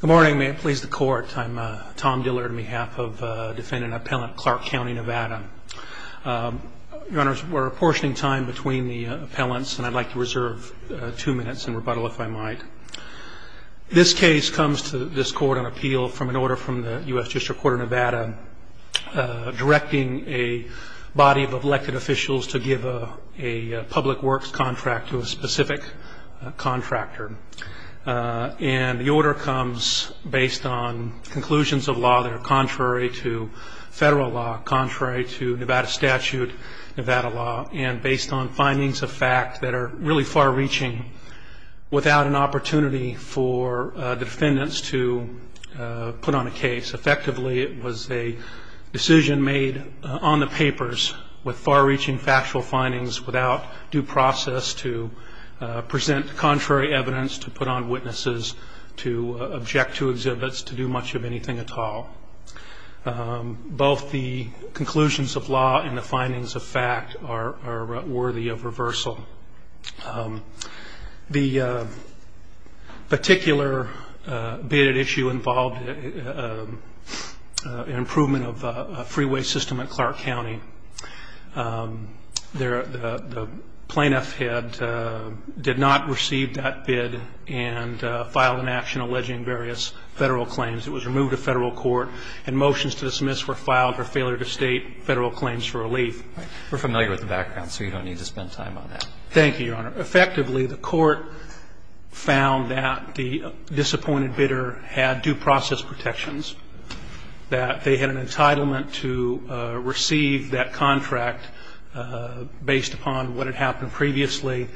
Good morning. May it please the Court, I'm Tom Diller on behalf of defendant and appellant Clark County, Nevada. Your Honors, we're apportioning time between the appellants and I'd like to reserve two minutes in rebuttal if I might. This case comes to this Court on appeal from an order from the U.S. District Court of Nevada directing a body of elected officials to give a public works contract to a specific contractor. And the order comes based on conclusions of law that are contrary to federal law, contrary to Nevada statute, Nevada law, and based on findings of fact that are really far-reaching without an opportunity for defendants to put on a case. Effectively it was a decision made on the papers with far-reaching factual findings without due process to present contrary evidence, to put on witnesses, to object to exhibits, to do much of anything at all. Both the conclusions of law and the findings of fact are worthy of reversal. The particular bidded issue involved an improvement of a freeway system at Clark County. The plaintiff did not receive that bid and filed an action alleging various federal claims. It was removed of federal court and motions to dismiss were filed for failure to state federal claims for relief. We're familiar with the background so you don't need to spend time on that. Thank you, Your Honor. Effectively the court found that the disappointed bidder had due process protections, that they had an entitlement to receive that contract based upon what had happened previously,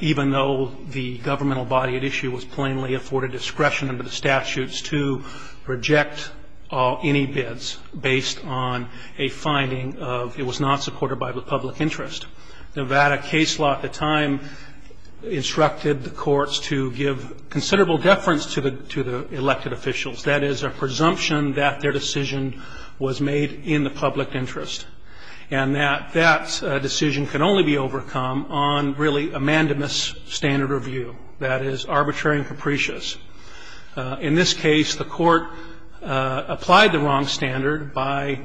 even though the governmental body at issue was plainly afforded discretion under the statutes to reject any bids based on a finding of it was not supported by the public interest. Nevada case law at the time instructed the courts to give considerable deference to the elected officials. That is a presumption that their decision was made in the public interest and that that decision can only be overcome on really a mandamus standard review, that is arbitrary and capricious. In this case the court applied the wrong standard by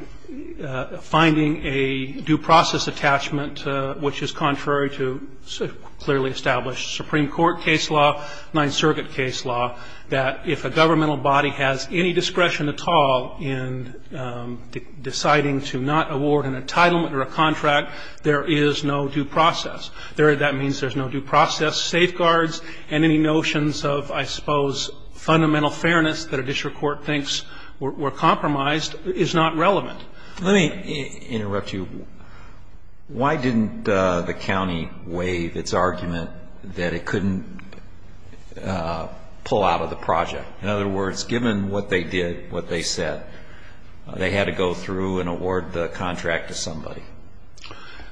finding a due process attachment which is contrary to clearly established Supreme Court case law, Ninth Circuit case law, that if a governmental body has any discretion at all in deciding to not award an entitlement or a contract, there is no due process. That means there's no due process safeguards and any notions of, I suppose, fundamental fairness that a district court thinks were compromised is not relevant. Let me interrupt you. Why didn't the county waive its argument that it couldn't pull out of the project? In other words, given what they did, what they said, they had to go through and award the contract to somebody.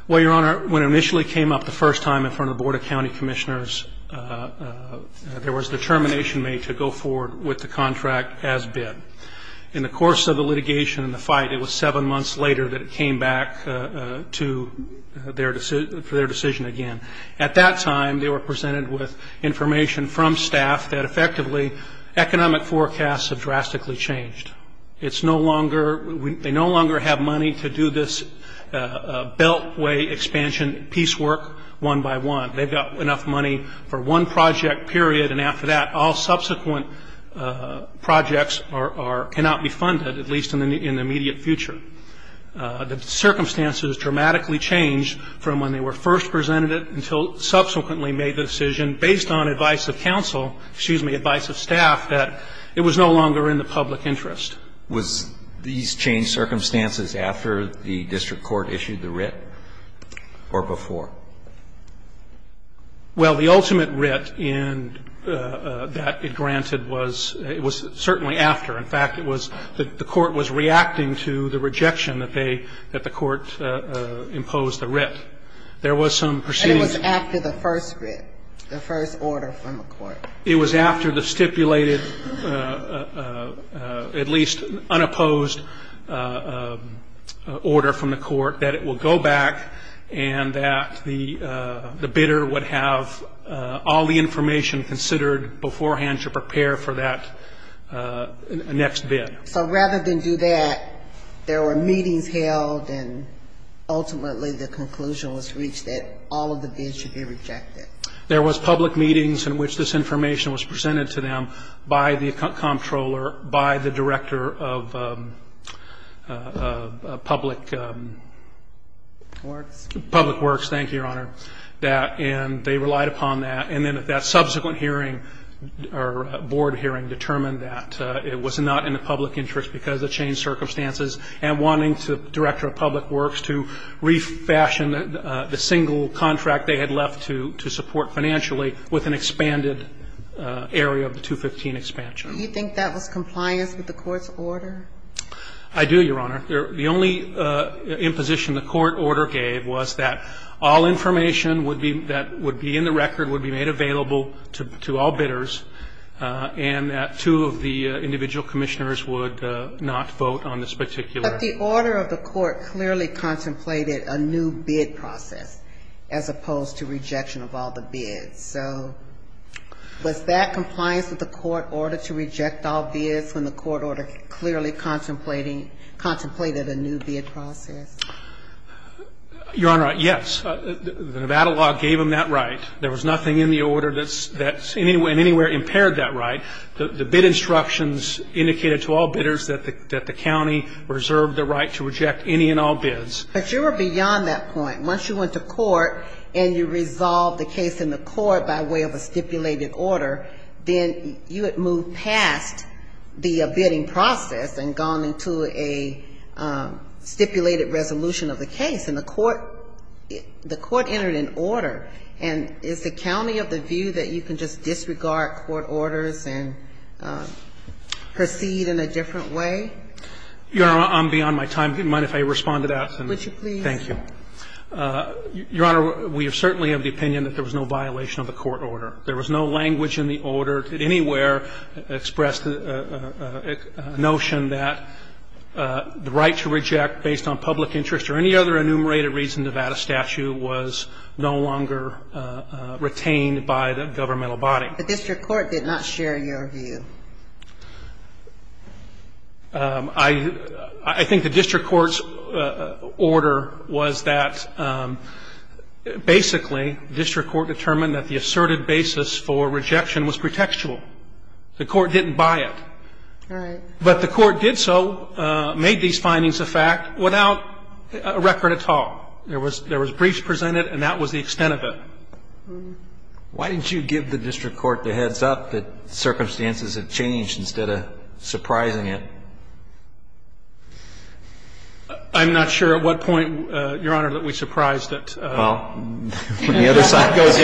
Well, Your Honor, when it initially came up the first time in front of the Board of County Commissioners, there was determination made to go forward with the contract as bid. In the course of the litigation and the fight, it was seven months later that it came back for their decision again. At that time they were presented with information from staff that effectively economic forecasts have drastically changed. They no longer have money to do this beltway expansion piecework one by one. They've got enough money for one project period, and after that all subsequent projects are or cannot be funded, at least in the immediate future. The circumstances dramatically changed from when they were first presented until subsequently made the decision, based on advice of counsel, excuse me, advice of staff, that it was no longer in the public interest. Was these changed circumstances after the district court issued the writ or before? Well, the ultimate writ that it granted was certainly after. In fact, the court was reacting to the rejection that the court imposed the writ. There was some proceedings. And it was after the first writ, the first order from the court? It was after the stipulated, at least unopposed, order from the court that it will go back and that the bidder would have all the information considered beforehand to prepare for that next bid. So rather than do that, there were meetings held, and ultimately the conclusion was reached that all of the bids should be rejected. There was public meetings in which this information was presented to them by the comptroller, by the director of public works. Thank you, Your Honor. And they relied upon that. And then at that subsequent hearing or board hearing determined that it was not in the public interest because of the changed circumstances and wanting the director of public works to refashion the single contract they had left to support financially with an expanded area of the 215 expansion. Do you think that was compliance with the court's order? I do, Your Honor. The only imposition the court order gave was that all information would be that would be in the record, would be made available to all bidders, and that two of the individual commissioners would not vote on this particular But the order of the court clearly contemplated a new bid process as opposed to rejection of all the bids. So was that compliance with the court order to reject all bids when the court order clearly contemplated a new bid process? Your Honor, yes. The Nevada law gave them that right. There was nothing in the order that in any way impaired that right. The bid instructions indicated to all bidders that the county reserved the right to reject any and all bids. But you were beyond that point. Once you went to court and you resolved the case in the court by way of a stipulated order, then you had moved past the bidding process and gone into a stipulated resolution of the case. And the court entered an order. And is the county of the view that you can just disregard court orders and proceed in a different way? Your Honor, I'm beyond my time. Do you mind if I respond to that? Would you please? Thank you. Your Honor, we certainly have the opinion that there was no violation of the court order. There was no language in the order that anywhere expressed a notion that the right to reject based on public interest or any other enumerated reason Nevada statute was no longer retained by the governmental body. The district court did not share your view. I think the district court's order was that basically the district court determined that the asserted basis for rejection was pretextual. The court didn't buy it. All right. But the court did so, made these findings a fact without a record at all. There was briefs presented, and that was the extent of it. Why didn't you give the district court the heads-up that circumstances have changed instead of surprising it? I'm not sure at what point, Your Honor, that we surprised it. Well, the other side goes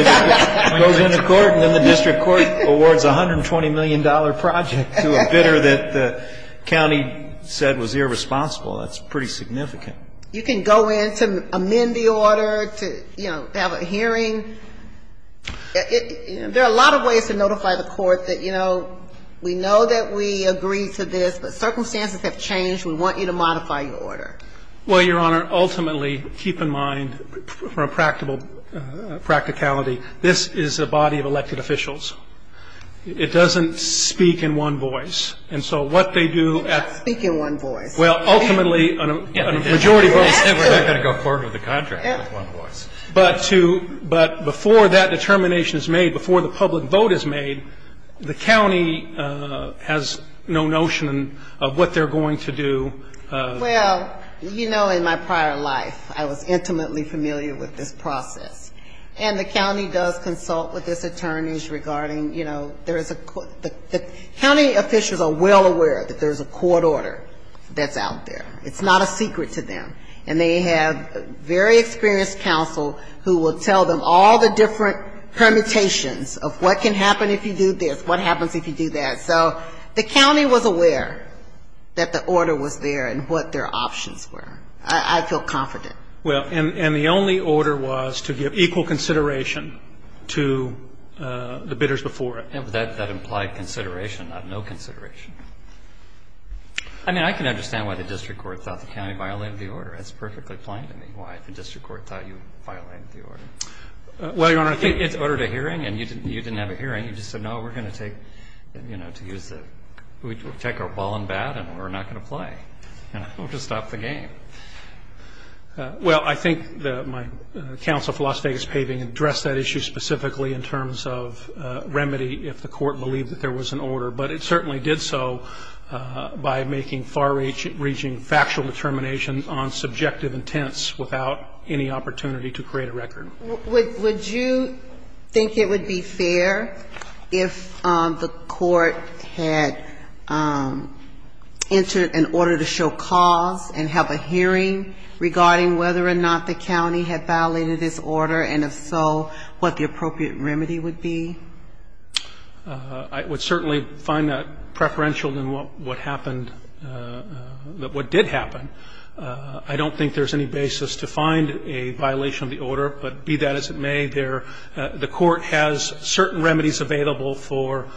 in the court, and then the district court awards a $120 million project to a bidder that the county said was irresponsible. That's pretty significant. You can go in to amend the order, to have a hearing. There are a lot of ways to notify the court that, you know, we know that we agree to this, but circumstances have changed. We want you to modify your order. Well, Your Honor, ultimately, keep in mind, for a practicality, this is a body of elected officials. It doesn't speak in one voice. And so what they do at the end of the day, they're not going to go forward with the contract with one voice. But before that determination is made, before the public vote is made, the county has no notion of what they're going to do. Well, you know, in my prior life, I was intimately familiar with this process. And the county does consult with its attorneys regarding, you know, there is a court the county officials are well aware that there's a court order that's out there. It's not a secret to them. And they have very experienced counsel who will tell them all the different permutations of what can happen if you do this, what happens if you do that. So the county was aware that the order was there and what their options were. I feel confident. Well, and the only order was to give equal consideration to the bidders before it. That implied consideration, not no consideration. I mean, I can understand why the district court thought the county violated the order. It's perfectly plain to me why the district court thought you violated the order. Well, Your Honor, I think it's ordered a hearing and you didn't have a hearing. You just said, no, we're going to take, you know, to use the we'll take our ball in bat and we're not going to play. You know, we're going to stop the game. Well, I think my counsel for Las Vegas Paving addressed that issue specifically in terms of remedy if the court believed that there was an order. But it certainly did so by making far-reaching factual determination on subjective intents without any opportunity to create a record. Would you think it would be fair if the court had entered an order to show cause and have a hearing regarding whether or not the county had violated this order, and if so, what the appropriate remedy would be? I would certainly find that preferential than what happened, what did happen. I don't think there's any basis to find a violation of the order. But be that as it may, the court has certain remedies available for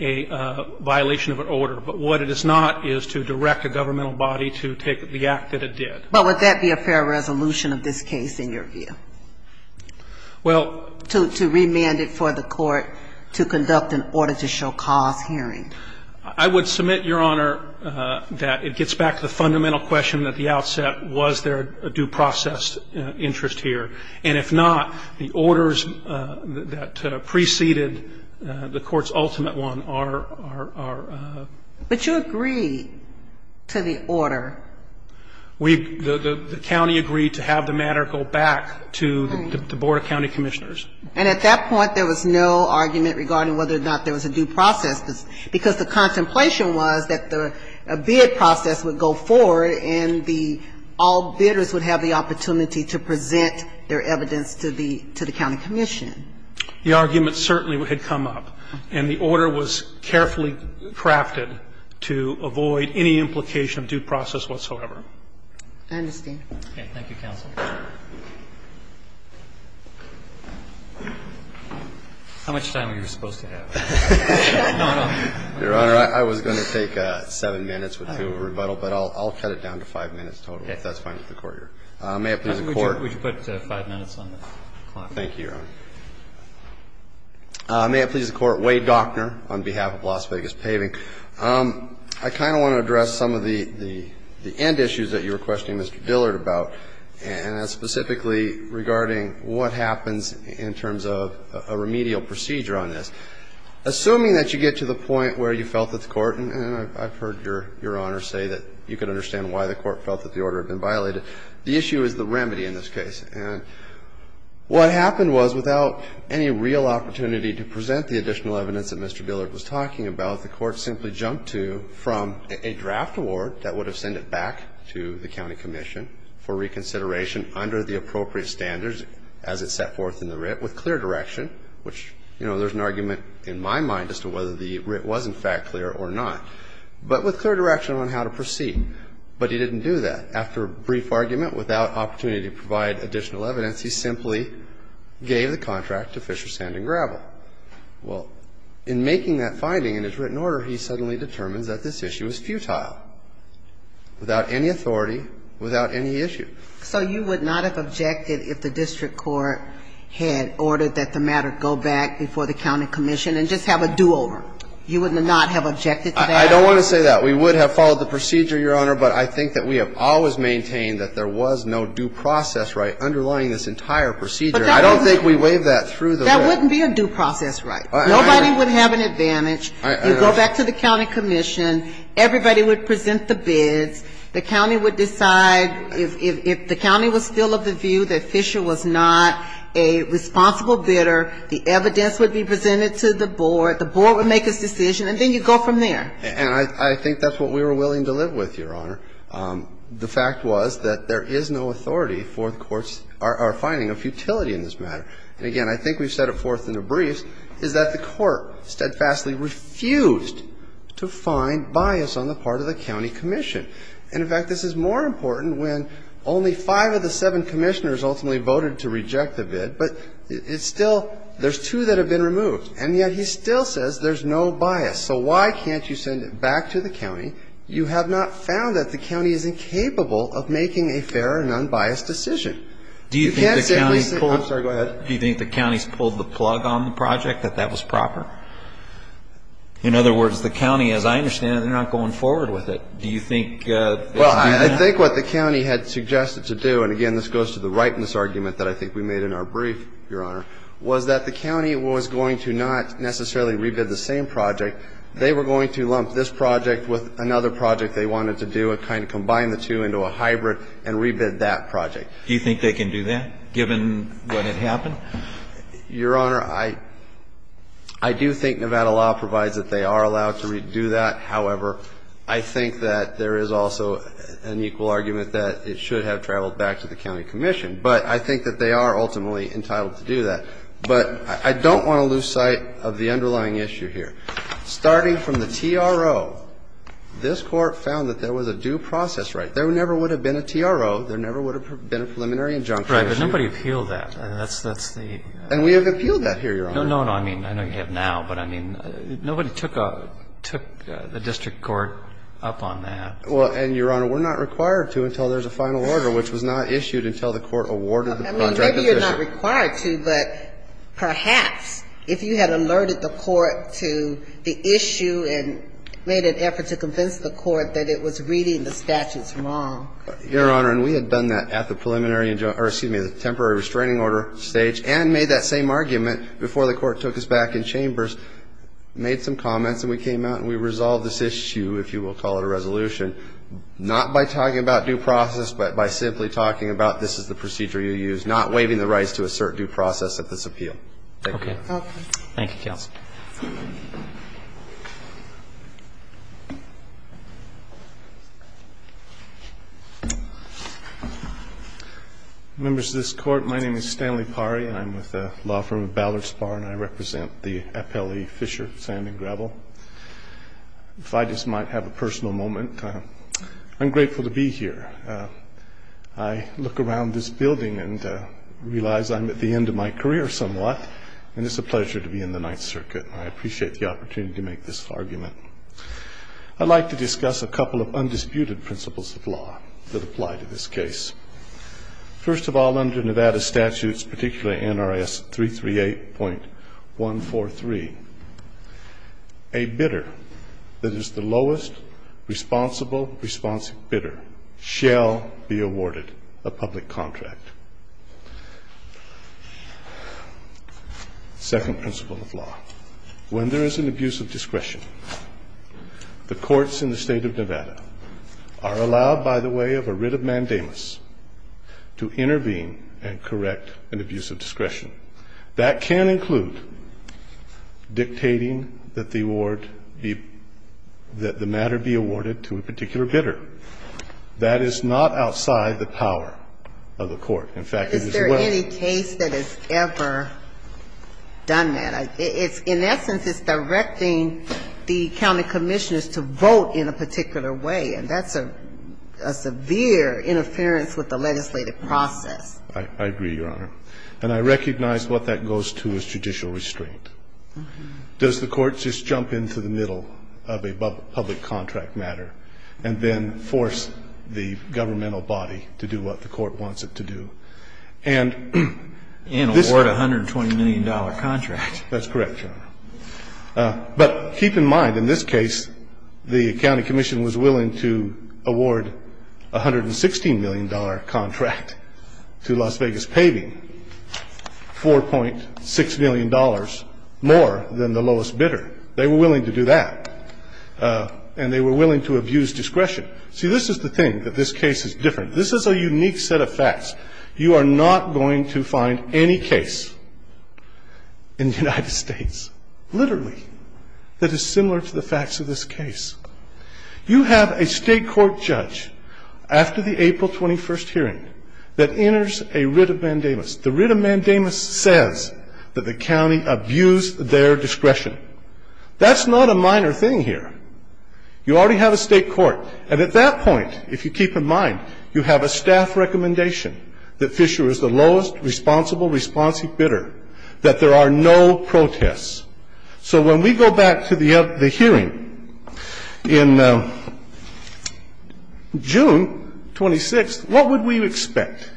a violation of an order. But what it is not is to direct a governmental body to take the act that it did. But would that be a fair resolution of this case in your view? Well to remand it for the court to conduct an order to show cause hearing? I would submit, Your Honor, that it gets back to the fundamental question at the outset, was there a due process interest here? And if not, the orders that preceded the court's ultimate one are ‑‑ But you agree to the order. The county agreed to have the matter go back to the board of county commissioners. And at that point, there was no argument regarding whether or not there was a due process, because the contemplation was that the bid process would go forward and all bidders would have the opportunity to present their evidence to the county commission. The argument certainly had come up, and the order was carefully crafted to avoid any implication of due process whatsoever. I understand. Okay. Thank you, counsel. How much time are you supposed to have? Your Honor, I was going to take seven minutes with two rebuttal, but I'll cut it down to five minutes total, if that's fine with the court here. Would you put five minutes on the clock? Thank you, Your Honor. May it please the Court, Wade Dockner on behalf of Las Vegas Paving. I kind of want to address some of the end issues that you were questioning Mr. Dillard about, and that's specifically regarding what happens in terms of a remedial procedure on this. Assuming that you get to the point where you felt that the court ‑‑ and I've heard Your Honor say that you could understand why the court felt that the order had been violated. The issue is the remedy in this case. And what happened was, without any real opportunity to present the additional evidence that Mr. Dillard was talking about, the court simply jumped to from a draft award that would have sent it back to the county commission for reconsideration under the appropriate standards as it set forth in the writ with clear direction, which, you know, there's an argument in my mind as to whether the writ was, in fact, clear or not, but with clear direction on how to proceed. But he didn't do that. After a brief argument, without opportunity to provide additional evidence, he simply gave the contract to Fisher Sand and Gravel. Well, in making that finding in his written order, he suddenly determines that this issue is futile, without any authority, without any issue. So you would not have objected if the district court had ordered that the matter go back before the county commission and just have a do‑over? You would not have objected to that? I don't want to say that. We would have followed the procedure, Your Honor, but I think that we have always maintained that there was no due process right underlying this entire procedure. I don't think we waived that through the writ. That wouldn't be a due process right. Nobody would have an advantage. You go back to the county commission. Everybody would present the bids. The county would decide if the county was still of the view that Fisher was not a responsible bidder, the evidence would be presented to the board, the board would make its decision, and then you go from there. And I think that's what we were willing to live with, Your Honor. The fact was that there is no authority for the courts are finding a futility in this matter. And, again, I think we've said it forth in the briefs, is that the court steadfastly refused to find bias on the part of the county commission. And, in fact, this is more important when only five of the seven commissioners ultimately voted to reject the bid, but it's still ‑‑ there's two that have been removed, and yet he still says there's no bias. So why can't you send it back to the county? You have not found that the county is incapable of making a fair and unbiased decision. You can't simply say ‑‑ Do you think the county's pulled the plug on the project, that that was proper? In other words, the county, as I understand it, they're not going forward with it. Do you think ‑‑ Well, I think what the county had suggested to do, and, again, this goes to the rightness argument that I think we made in our brief, Your Honor, was that the county was going to not necessarily re‑bid the same project. They were going to lump this project with another project they wanted to do and kind of combine the two into a hybrid and re‑bid that project. Do you think they can do that, given what had happened? Your Honor, I do think Nevada law provides that they are allowed to re‑do that. However, I think that there is also an equal argument that it should have traveled back to the county commission. But I think that they are ultimately entitled to do that. But I don't want to lose sight of the underlying issue here. Starting from the TRO, this Court found that there was a due process right. There never would have been a TRO. There never would have been a preliminary injunction. Right. But nobody appealed that. That's the ‑‑ And we have appealed that here, Your Honor. No, no, no. I mean, I know you have now. But, I mean, nobody took a ‑‑ took the district court up on that. Well, and, Your Honor, we're not required to until there's a final order, which was not issued until the Court awarded the project to the district. I mean, maybe you're not required to, but perhaps if you had alerted the court to the issue and made an effort to convince the court that it was reading the statutes wrong. Your Honor, and we had done that at the preliminary ‑‑ or, excuse me, the temporary restraining order stage and made that same argument before the Court took us back in chambers, made some comments, and we came out and we resolved this issue, if you will call it a resolution, not by talking about due process, but by simply talking about this is the procedure you use, not waiving the rights to assert due process at this appeal. Okay. Okay. Thank you, counsel. Members of this Court, my name is Stanley Parry, and I'm with the law firm of Ballard Spahr, and I represent the FLE Fisher Sand and Gravel. If I just might have a personal moment, I'm grateful to be here. I look around this building and realize I'm at the end of my career somewhat, and it's a pleasure to be in the Ninth Circuit, and I appreciate the opportunity to make this argument. I'd like to discuss a couple of undisputed principles of law that apply to this case. First of all, under Nevada statutes, particularly NRS 338.143, there is a bidder that is the lowest responsible bidder shall be awarded a public contract. Second principle of law, when there is an abuse of discretion, the courts in the state of Nevada are allowed by the way of a writ of mandamus to intervene and correct an abuse of discretion. That can include dictating that the award be, that the matter be awarded to a particular bidder. That is not outside the power of the court. In fact, it is well- Is there any case that has ever done that? In essence, it's directing the county commissioners to vote in a particular way, and that's a severe interference with the legislative process. I agree, Your Honor. And I recognize what that goes to is judicial restraint. Does the court just jump into the middle of a public contract matter and then force the governmental body to do what the court wants it to do? And award a $120 million contract. That's correct, Your Honor. But keep in mind, in this case, the county commission was willing to award a $116 million contract to Las Vegas Paving, $4.6 million more than the lowest bidder. They were willing to do that. And they were willing to abuse discretion. See, this is the thing that this case is different. This is a unique set of facts. You are not going to find any case in the United States, literally, that is similar to the facts of this case. You have a state court judge after the April 21st hearing that enters a writ of mandamus. The writ of mandamus says that the county abused their discretion. That's not a minor thing here. You already have a state court. And at that point, if you keep in mind, you have a staff recommendation that Fisher is the lowest responsible responsive bidder, that there are no protests. So when we go back to the hearing in June 26th, what would we expect?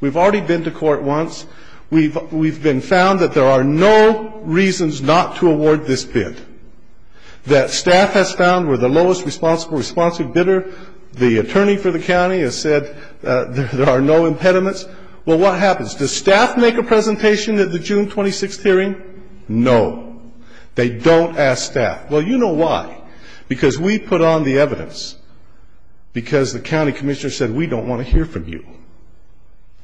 We've already been to court once. We've been found that there are no reasons not to award this bid. That staff has found we're the lowest responsible responsive bidder. The attorney for the county has said there are no impediments. Well, what happens? Does staff make a presentation at the June 26th hearing? No. They don't ask staff. Well, you know why. Because we put on the evidence because the county commissioner said, we don't want to hear from you.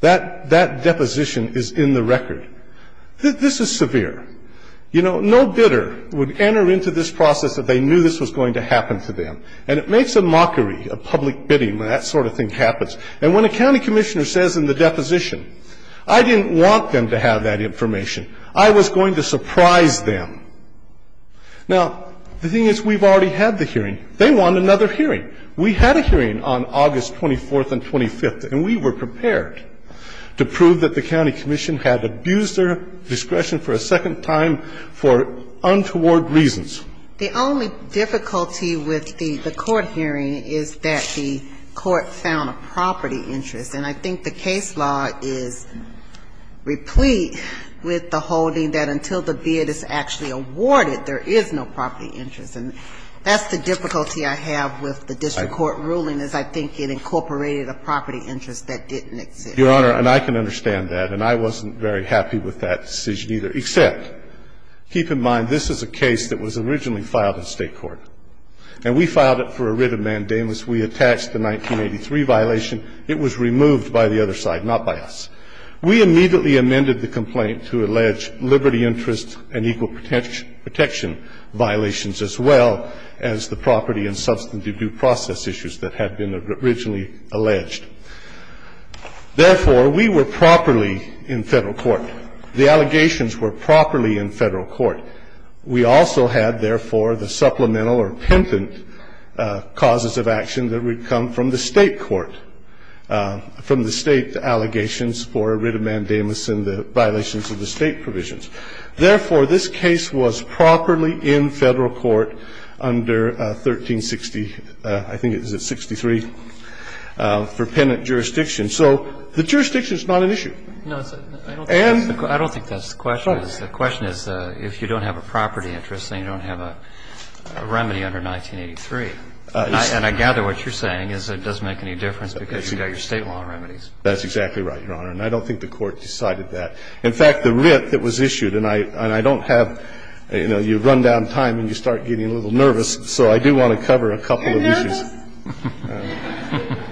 That deposition is in the record. This is severe. You know, no bidder would enter into this process if they knew this was going to happen to them. And it makes a mockery of public bidding when that sort of thing happens. And when a county commissioner says in the deposition, I didn't want them to have that information. I was going to surprise them. Now, the thing is, we've already had the hearing. They want another hearing. We had a hearing on August 24th and 25th, and we were prepared to prove that the county commission had abused their discretion for a second time for untoward reasons. The only difficulty with the court hearing is that the court found a property interest. And I think the case law is replete with the holding that until the bid is actually awarded, there is no property interest. And that's the difficulty I have with the district court ruling, is I think it incorporated a property interest that didn't exist. Your Honor, and I can understand that, and I wasn't very happy with that decision either. Except, keep in mind, this is a case that was originally filed in State court. And we filed it for a writ of mandamus. We attached the 1983 violation. It was removed by the other side, not by us. We immediately amended the complaint to allege liberty interest and equal protection violations as well as the property and substantive due process issues that had been originally alleged. Therefore, we were properly in Federal court. The allegations were properly in Federal court. We also had, therefore, the supplemental or pentant causes of action that would have come from the State court, from the State allegations for a writ of mandamus and the violations of the State provisions. Therefore, this case was properly in Federal court under 1360, I think it was at 63, for pentant jurisdiction. So the jurisdiction is not an issue. And the question is if you don't have a property interest, then you don't have a remedy under 1983. And I gather what you're saying is it doesn't make any difference because you've got your State law remedies. That's exactly right, Your Honor. And I don't think the Court decided that. In fact, the writ that was issued, and I don't have, you know, you run down time and you start getting a little nervous, so I do want to cover a couple of issues. Are you nervous?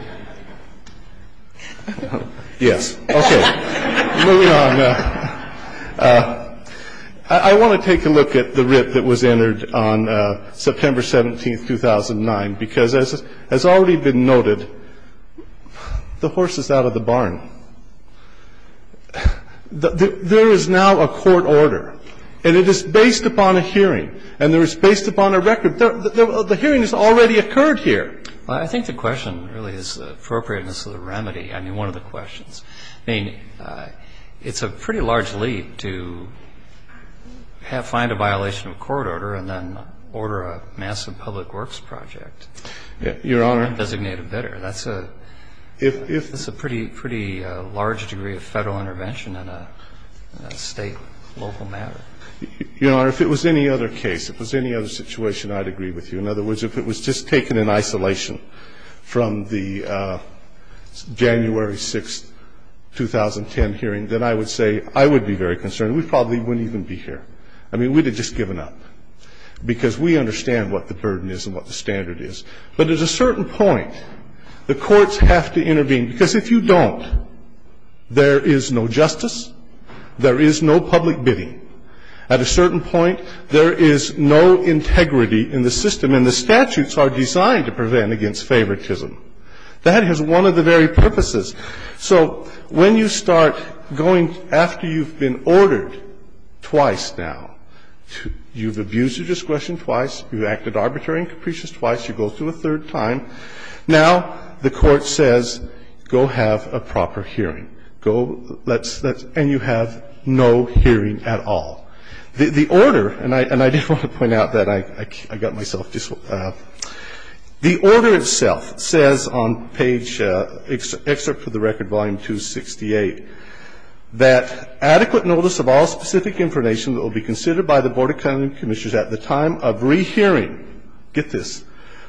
Yes. Okay. Moving on. I want to take a look at the writ that was entered on September 17, 2009, because as has already been noted, the horse is out of the barn. There is now a court order, and it is based upon a hearing, and it is based upon a record. The hearing has already occurred here. I think the question really is appropriateness of the remedy. I mean, one of the questions. I mean, it's a pretty large leap to find a violation of a court order and then order a massive public works project. Your Honor. Designate a bidder. That's a pretty large degree of Federal intervention in a State local matter. Your Honor, if it was any other case, if it was any other situation, I'd agree with you. In other words, if it was just taken in isolation from the January 6, 2010 hearing, then I would say I would be very concerned. We probably wouldn't even be here. I mean, we would have just given up, because we understand what the burden is and what the standard is. But at a certain point, the courts have to intervene, because if you don't, there is no justice, there is no public bidding. At a certain point, there is no integrity in the system, and the statutes are designed to prevent against favoritism. That is one of the very purposes. So when you start going after you've been ordered twice now, you've abused your discretion twice, you've acted arbitrary and capricious twice, you go through a third time. Now the court says, go have a proper hearing. And you have no hearing at all. The order, and I did want to point out that I got myself this one, the order itself says on page, excerpt for the record, volume 268, that adequate notice of all specific information that will be considered by the Board of County Commissioners at the time of rehearing, get this,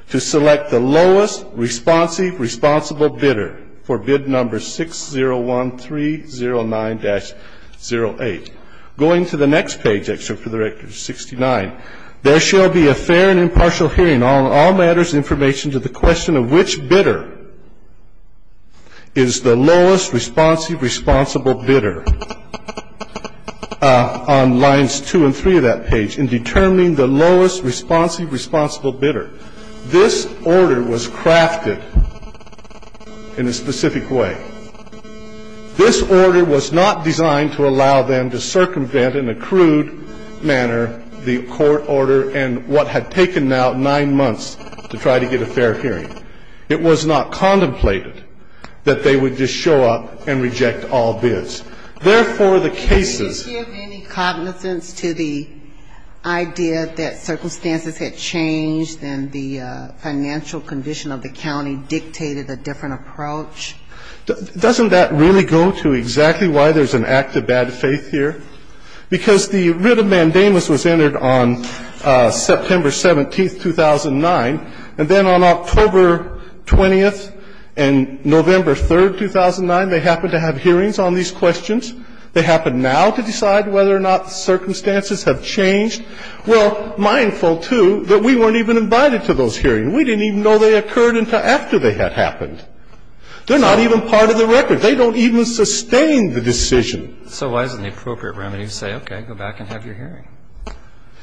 to select the lowest responsive responsible bidder for bid number 601309-08. Going to the next page, excerpt for the record, 69, there shall be a fair and impartial hearing on all matters and information to the question of which bidder is the lowest responsive responsible bidder on lines 2 and 3 of that page in determining the lowest responsive responsible bidder. This order was crafted in a specific way. This order was not designed to allow them to circumvent in a crude manner the court order and what had taken now nine months to try to get a fair hearing. It was not contemplated that they would just show up and reject all bids. Therefore, the cases of the... And the financial condition of the county dictated a different approach. Doesn't that really go to exactly why there's an act of bad faith here? Because the writ of mandamus was entered on September 17th, 2009, and then on October 20th and November 3rd, 2009, they happened to have hearings on these questions. They happen now to decide whether or not the circumstances have changed. Well, mindful, too, that we weren't even invited to those hearings. We didn't even know they occurred until after they had happened. They're not even part of the record. They don't even sustain the decision. So why isn't the appropriate remedy to say, okay, go back and have your hearing?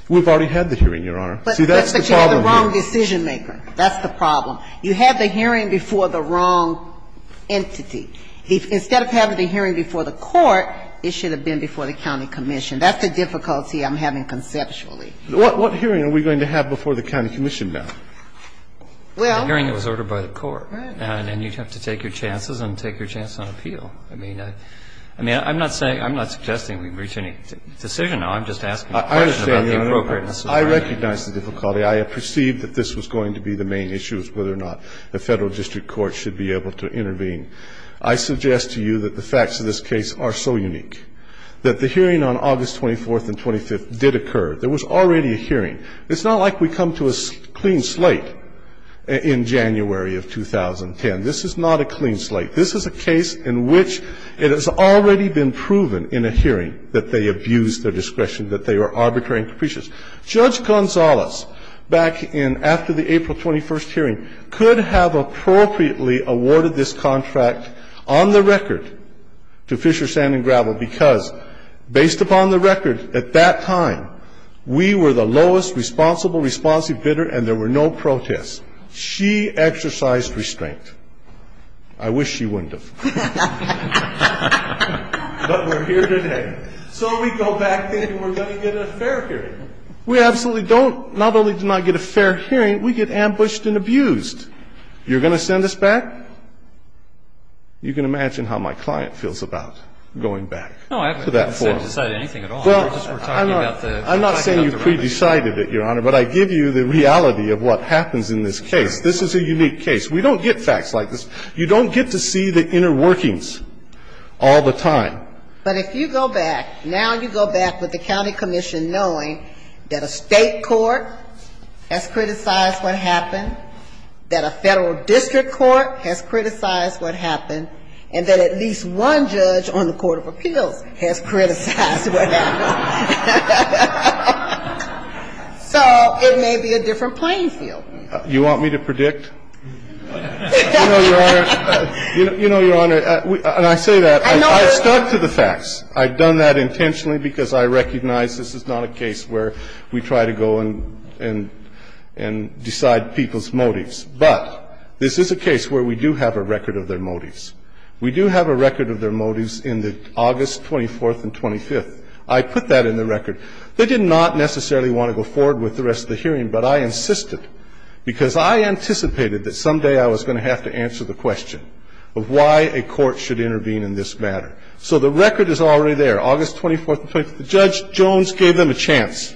We've already had the hearing, Your Honor. See, that's the problem here. But you had the wrong decision-maker. That's the problem. You had the hearing before the wrong entity. Instead of having the hearing before the court, it should have been before the county commission. That's the difficulty I'm having conceptually. What hearing are we going to have before the county commission now? Well the hearing was ordered by the court. And you'd have to take your chances and take your chance on appeal. I mean, I'm not saying, I'm not suggesting we reach any decision now. I'm just asking a question about the appropriateness. I understand, Your Honor. I recognize the difficulty. I have perceived that this was going to be the main issue, whether or not the Federal District Court should be able to intervene. I suggest to you that the facts of this case are so unique that the hearing on August 24th and 25th did occur. There was already a hearing. It's not like we come to a clean slate in January of 2010. This is not a clean slate. This is a case in which it has already been proven in a hearing that they abused their discretion, that they were arbitrary and capricious. Judge Gonzales, back in after the April 21st hearing, could have appropriately awarded this contract on the record to Fisher, Sand & Gravel because, based upon the record at that time, we were the lowest responsible responsive bidder and there were no protests. She exercised restraint. I wish she wouldn't have. But we're here today. So we go back there and we're going to get a fair hearing. We absolutely don't. Not only do we not get a fair hearing, we get ambushed and abused. You're going to send us back? You can imagine how my client feels about going back to that forum. No, I haven't decided anything at all. Well, I'm not saying you've pre-decided it, Your Honor, but I give you the reality of what happens in this case. This is a unique case. We don't get facts like this. You don't get to see the inner workings all the time. But if you go back, now you go back with the county commission knowing that a State court has criticized what happened, that a Federal district court has criticized what happened, and that at least one judge on the court of appeals has criticized what happened. So it may be a different playing field. You want me to predict? You know, Your Honor, and I say that. I've stuck to the facts. I've done that intentionally because I recognize this is not a case where we try to go and decide people's motives. But this is a case where we do have a record of their motives. We do have a record of their motives in the August 24th and 25th. I put that in the record. They did not necessarily want to go forward with the rest of the hearing, but I insisted because I anticipated that someday I was going to have to answer the question of why a court should intervene in this matter. So the record is already there, August 24th and 25th. Judge Jones gave them a chance.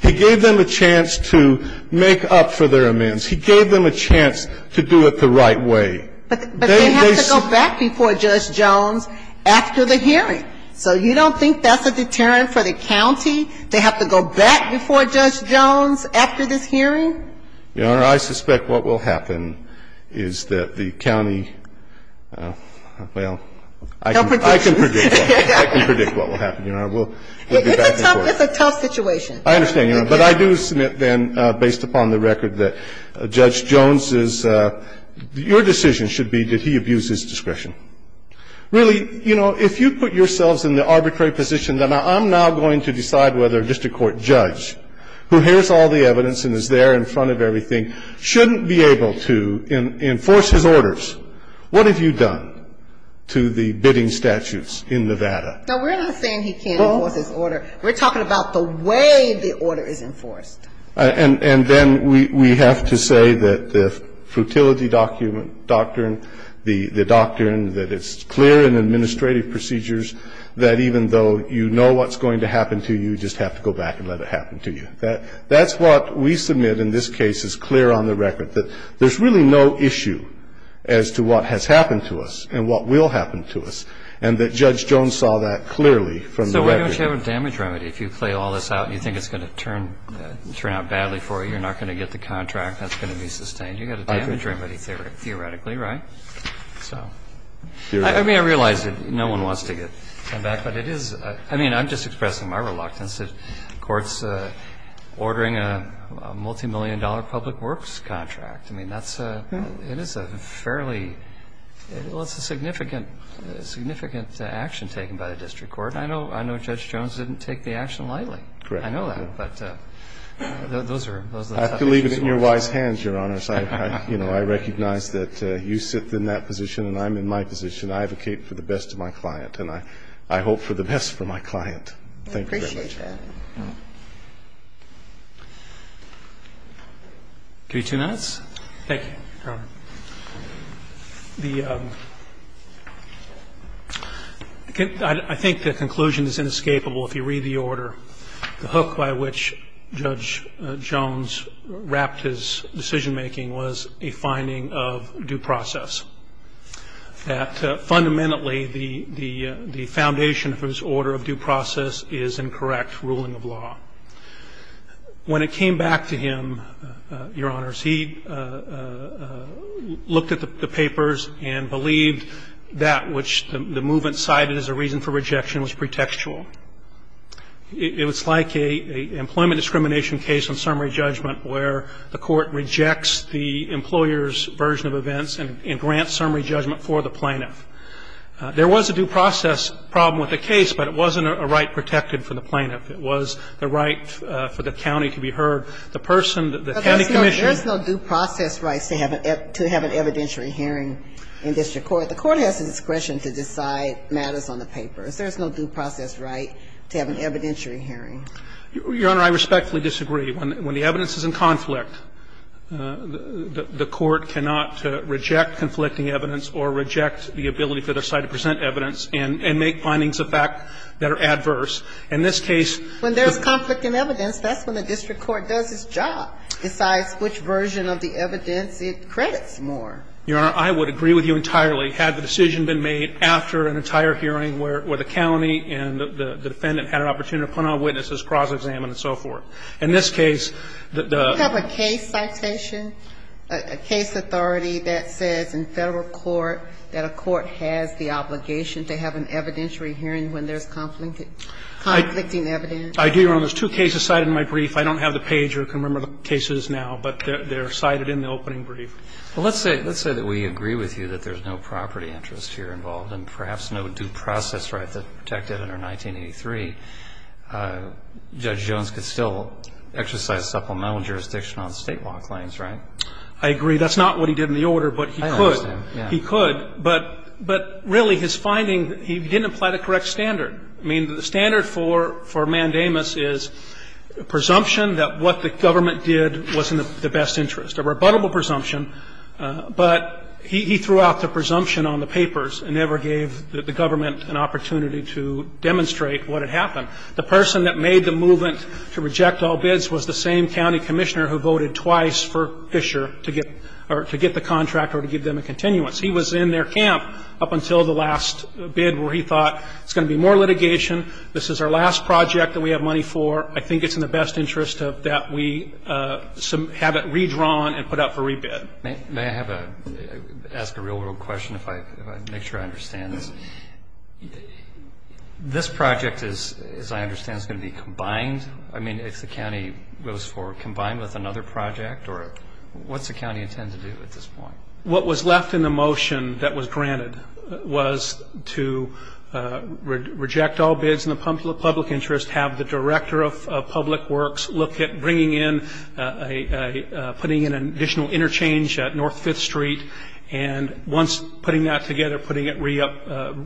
He gave them a chance to make up for their amends. He gave them a chance to do it the right way. But they have to go back before Judge Jones after the hearing. So you don't think that's a deterrent for the county? They have to go back before Judge Jones after this hearing? I suspect what will happen is that the county, well, I can predict what will happen. It's a tough situation. I understand, Your Honor. But I do submit then, based upon the record, that Judge Jones's ‑‑ your decision should be that he abuses discretion. Really, you know, if you put yourselves in the arbitrary position that I'm now going to decide whether a district court judge who hears all the evidence and is there in front of everything shouldn't be able to enforce his orders, what have you done to the bidding statutes in Nevada? No, we're not saying he can't enforce his order. We're talking about the way the order is enforced. And then we have to say that the frutility doctrine, the doctrine that it's clear in administrative procedures that even though you know what's going to happen to you, you just have to go back and let it happen to you. That's what we submit in this case is clear on the record, that there's really no issue as to what has happened to us and what will happen to us, and that Judge Jones saw that clearly from the record. So why don't you have a damage remedy? If you play all this out and you think it's going to turn out badly for you, you're not going to get the contract that's going to be sustained. You've got a damage remedy theoretically, right? So I mean, I realize that no one wants to come back, but it is – I mean, I'm just expressing my reluctance to courts ordering a multimillion-dollar public works contract. I mean, that's a – it is a fairly – well, it's a significant action taken by the district court, and I know Judge Jones didn't take the action lightly. Correct. I know that, but those are the topics you want to address. I believe it's in your wise hands, Your Honors. I recognize that you sit in that position and I'm in my position. I advocate for the best of my client, and I hope for the best for my client. Thank you very much. I appreciate that. Give you two minutes. Thank you, Your Honor. The – I think the conclusion is inescapable if you read the order. The hook by which Judge Jones wrapped his decision-making was a finding of due process, that fundamentally the foundation for his order of due process is incorrect ruling of law. When it came back to him, Your Honors, he looked at the papers and believed that which the movement cited as a reason for rejection was pretextual. It was like an employment discrimination case on summary judgment where the court rejects the employer's version of events and grants summary judgment for the plaintiff. There was a due process problem with the case, but it wasn't a right protected for the plaintiff. It was the right for the county to be heard. The person, the county commission – There's no due process rights to have an evidentiary hearing in district court. The court has the discretion to decide matters on the papers. There's no due process right to have an evidentiary hearing. Your Honor, I respectfully disagree. When the evidence is in conflict, the court cannot reject conflicting evidence or reject the ability for their side to present evidence and make findings of fact that are adverse. In this case – When there's conflict in evidence, that's when the district court does its job. Besides which version of the evidence it credits more. Your Honor, I would agree with you entirely had the decision been made after an entire hearing where the county and the defendant had an opportunity to put on witnesses, cross-examine and so forth. In this case, the – Do you have a case citation, a case authority that says in Federal court that a court has the obligation to have an evidentiary hearing when there's conflicting evidence? I do, Your Honor. There's two cases cited in my brief. I don't have the page or can remember the cases now, but they're cited in the opening brief. Well, let's say that we agree with you that there's no property interest here involved and perhaps no due process right that's protected under 1983. Judge Jones could still exercise supplemental jurisdiction on State law claims, right? I agree. That's not what he did in the order, but he could. I understand, yeah. He could, but really his finding, he didn't apply the correct standard. I mean, the standard for mandamus is presumption that what the government did wasn't in the best interest, a rebuttable presumption, but he threw out the presumption on the papers and never gave the government an opportunity to demonstrate what had happened. The person that made the movement to reject all bids was the same county commissioner who voted twice for Fisher to get the contract or to give them a continuance. He was in their camp up until the last bid where he thought it's going to be more litigation, this is our last project that we have money for, I think it's in the best interest that we have it redrawn and put up for rebid. May I ask a real-world question if I make sure I understand this? This project, as I understand, is going to be combined? I mean, if the county votes for combined with another project, or what's the county intending to do at this point? What was left in the motion that was granted was to reject all bids in the public interest, have the director of public works look at bringing in, putting in an additional interchange at North 5th Street, and once putting that together, putting it re-up,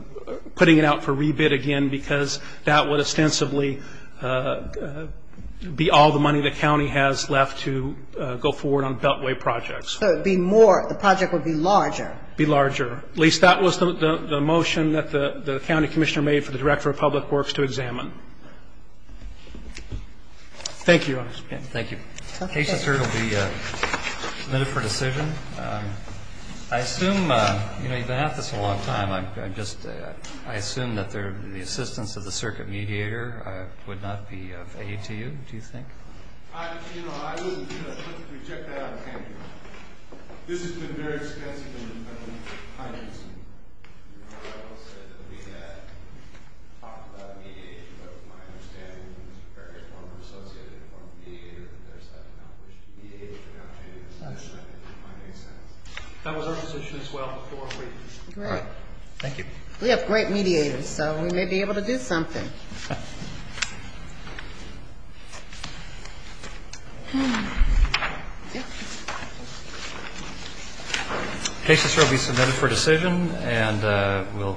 putting it out for rebid again, because that would ostensibly be all the money the county has left to go forward on Beltway projects. So it would be more, the project would be larger. Be larger. At least that was the motion that the county commissioner made for the director of public works to examine. Thank you, Your Honor. Thank you. Patient's heard will be submitted for decision. I assume, you know, you've been at this a long time. I assume that the assistance of the circuit mediator would not be of aid to you, do you think? You know, I would reject that out of hand. This has been very expensive and time-consuming. I will say that we have talked about mediators, but my understanding is that various forms are associated with the form of mediator, and there's that accomplished mediator. That was our position as well before. Great. Thank you. We have great mediators, so we may be able to do something. Patient's heard will be submitted for decision.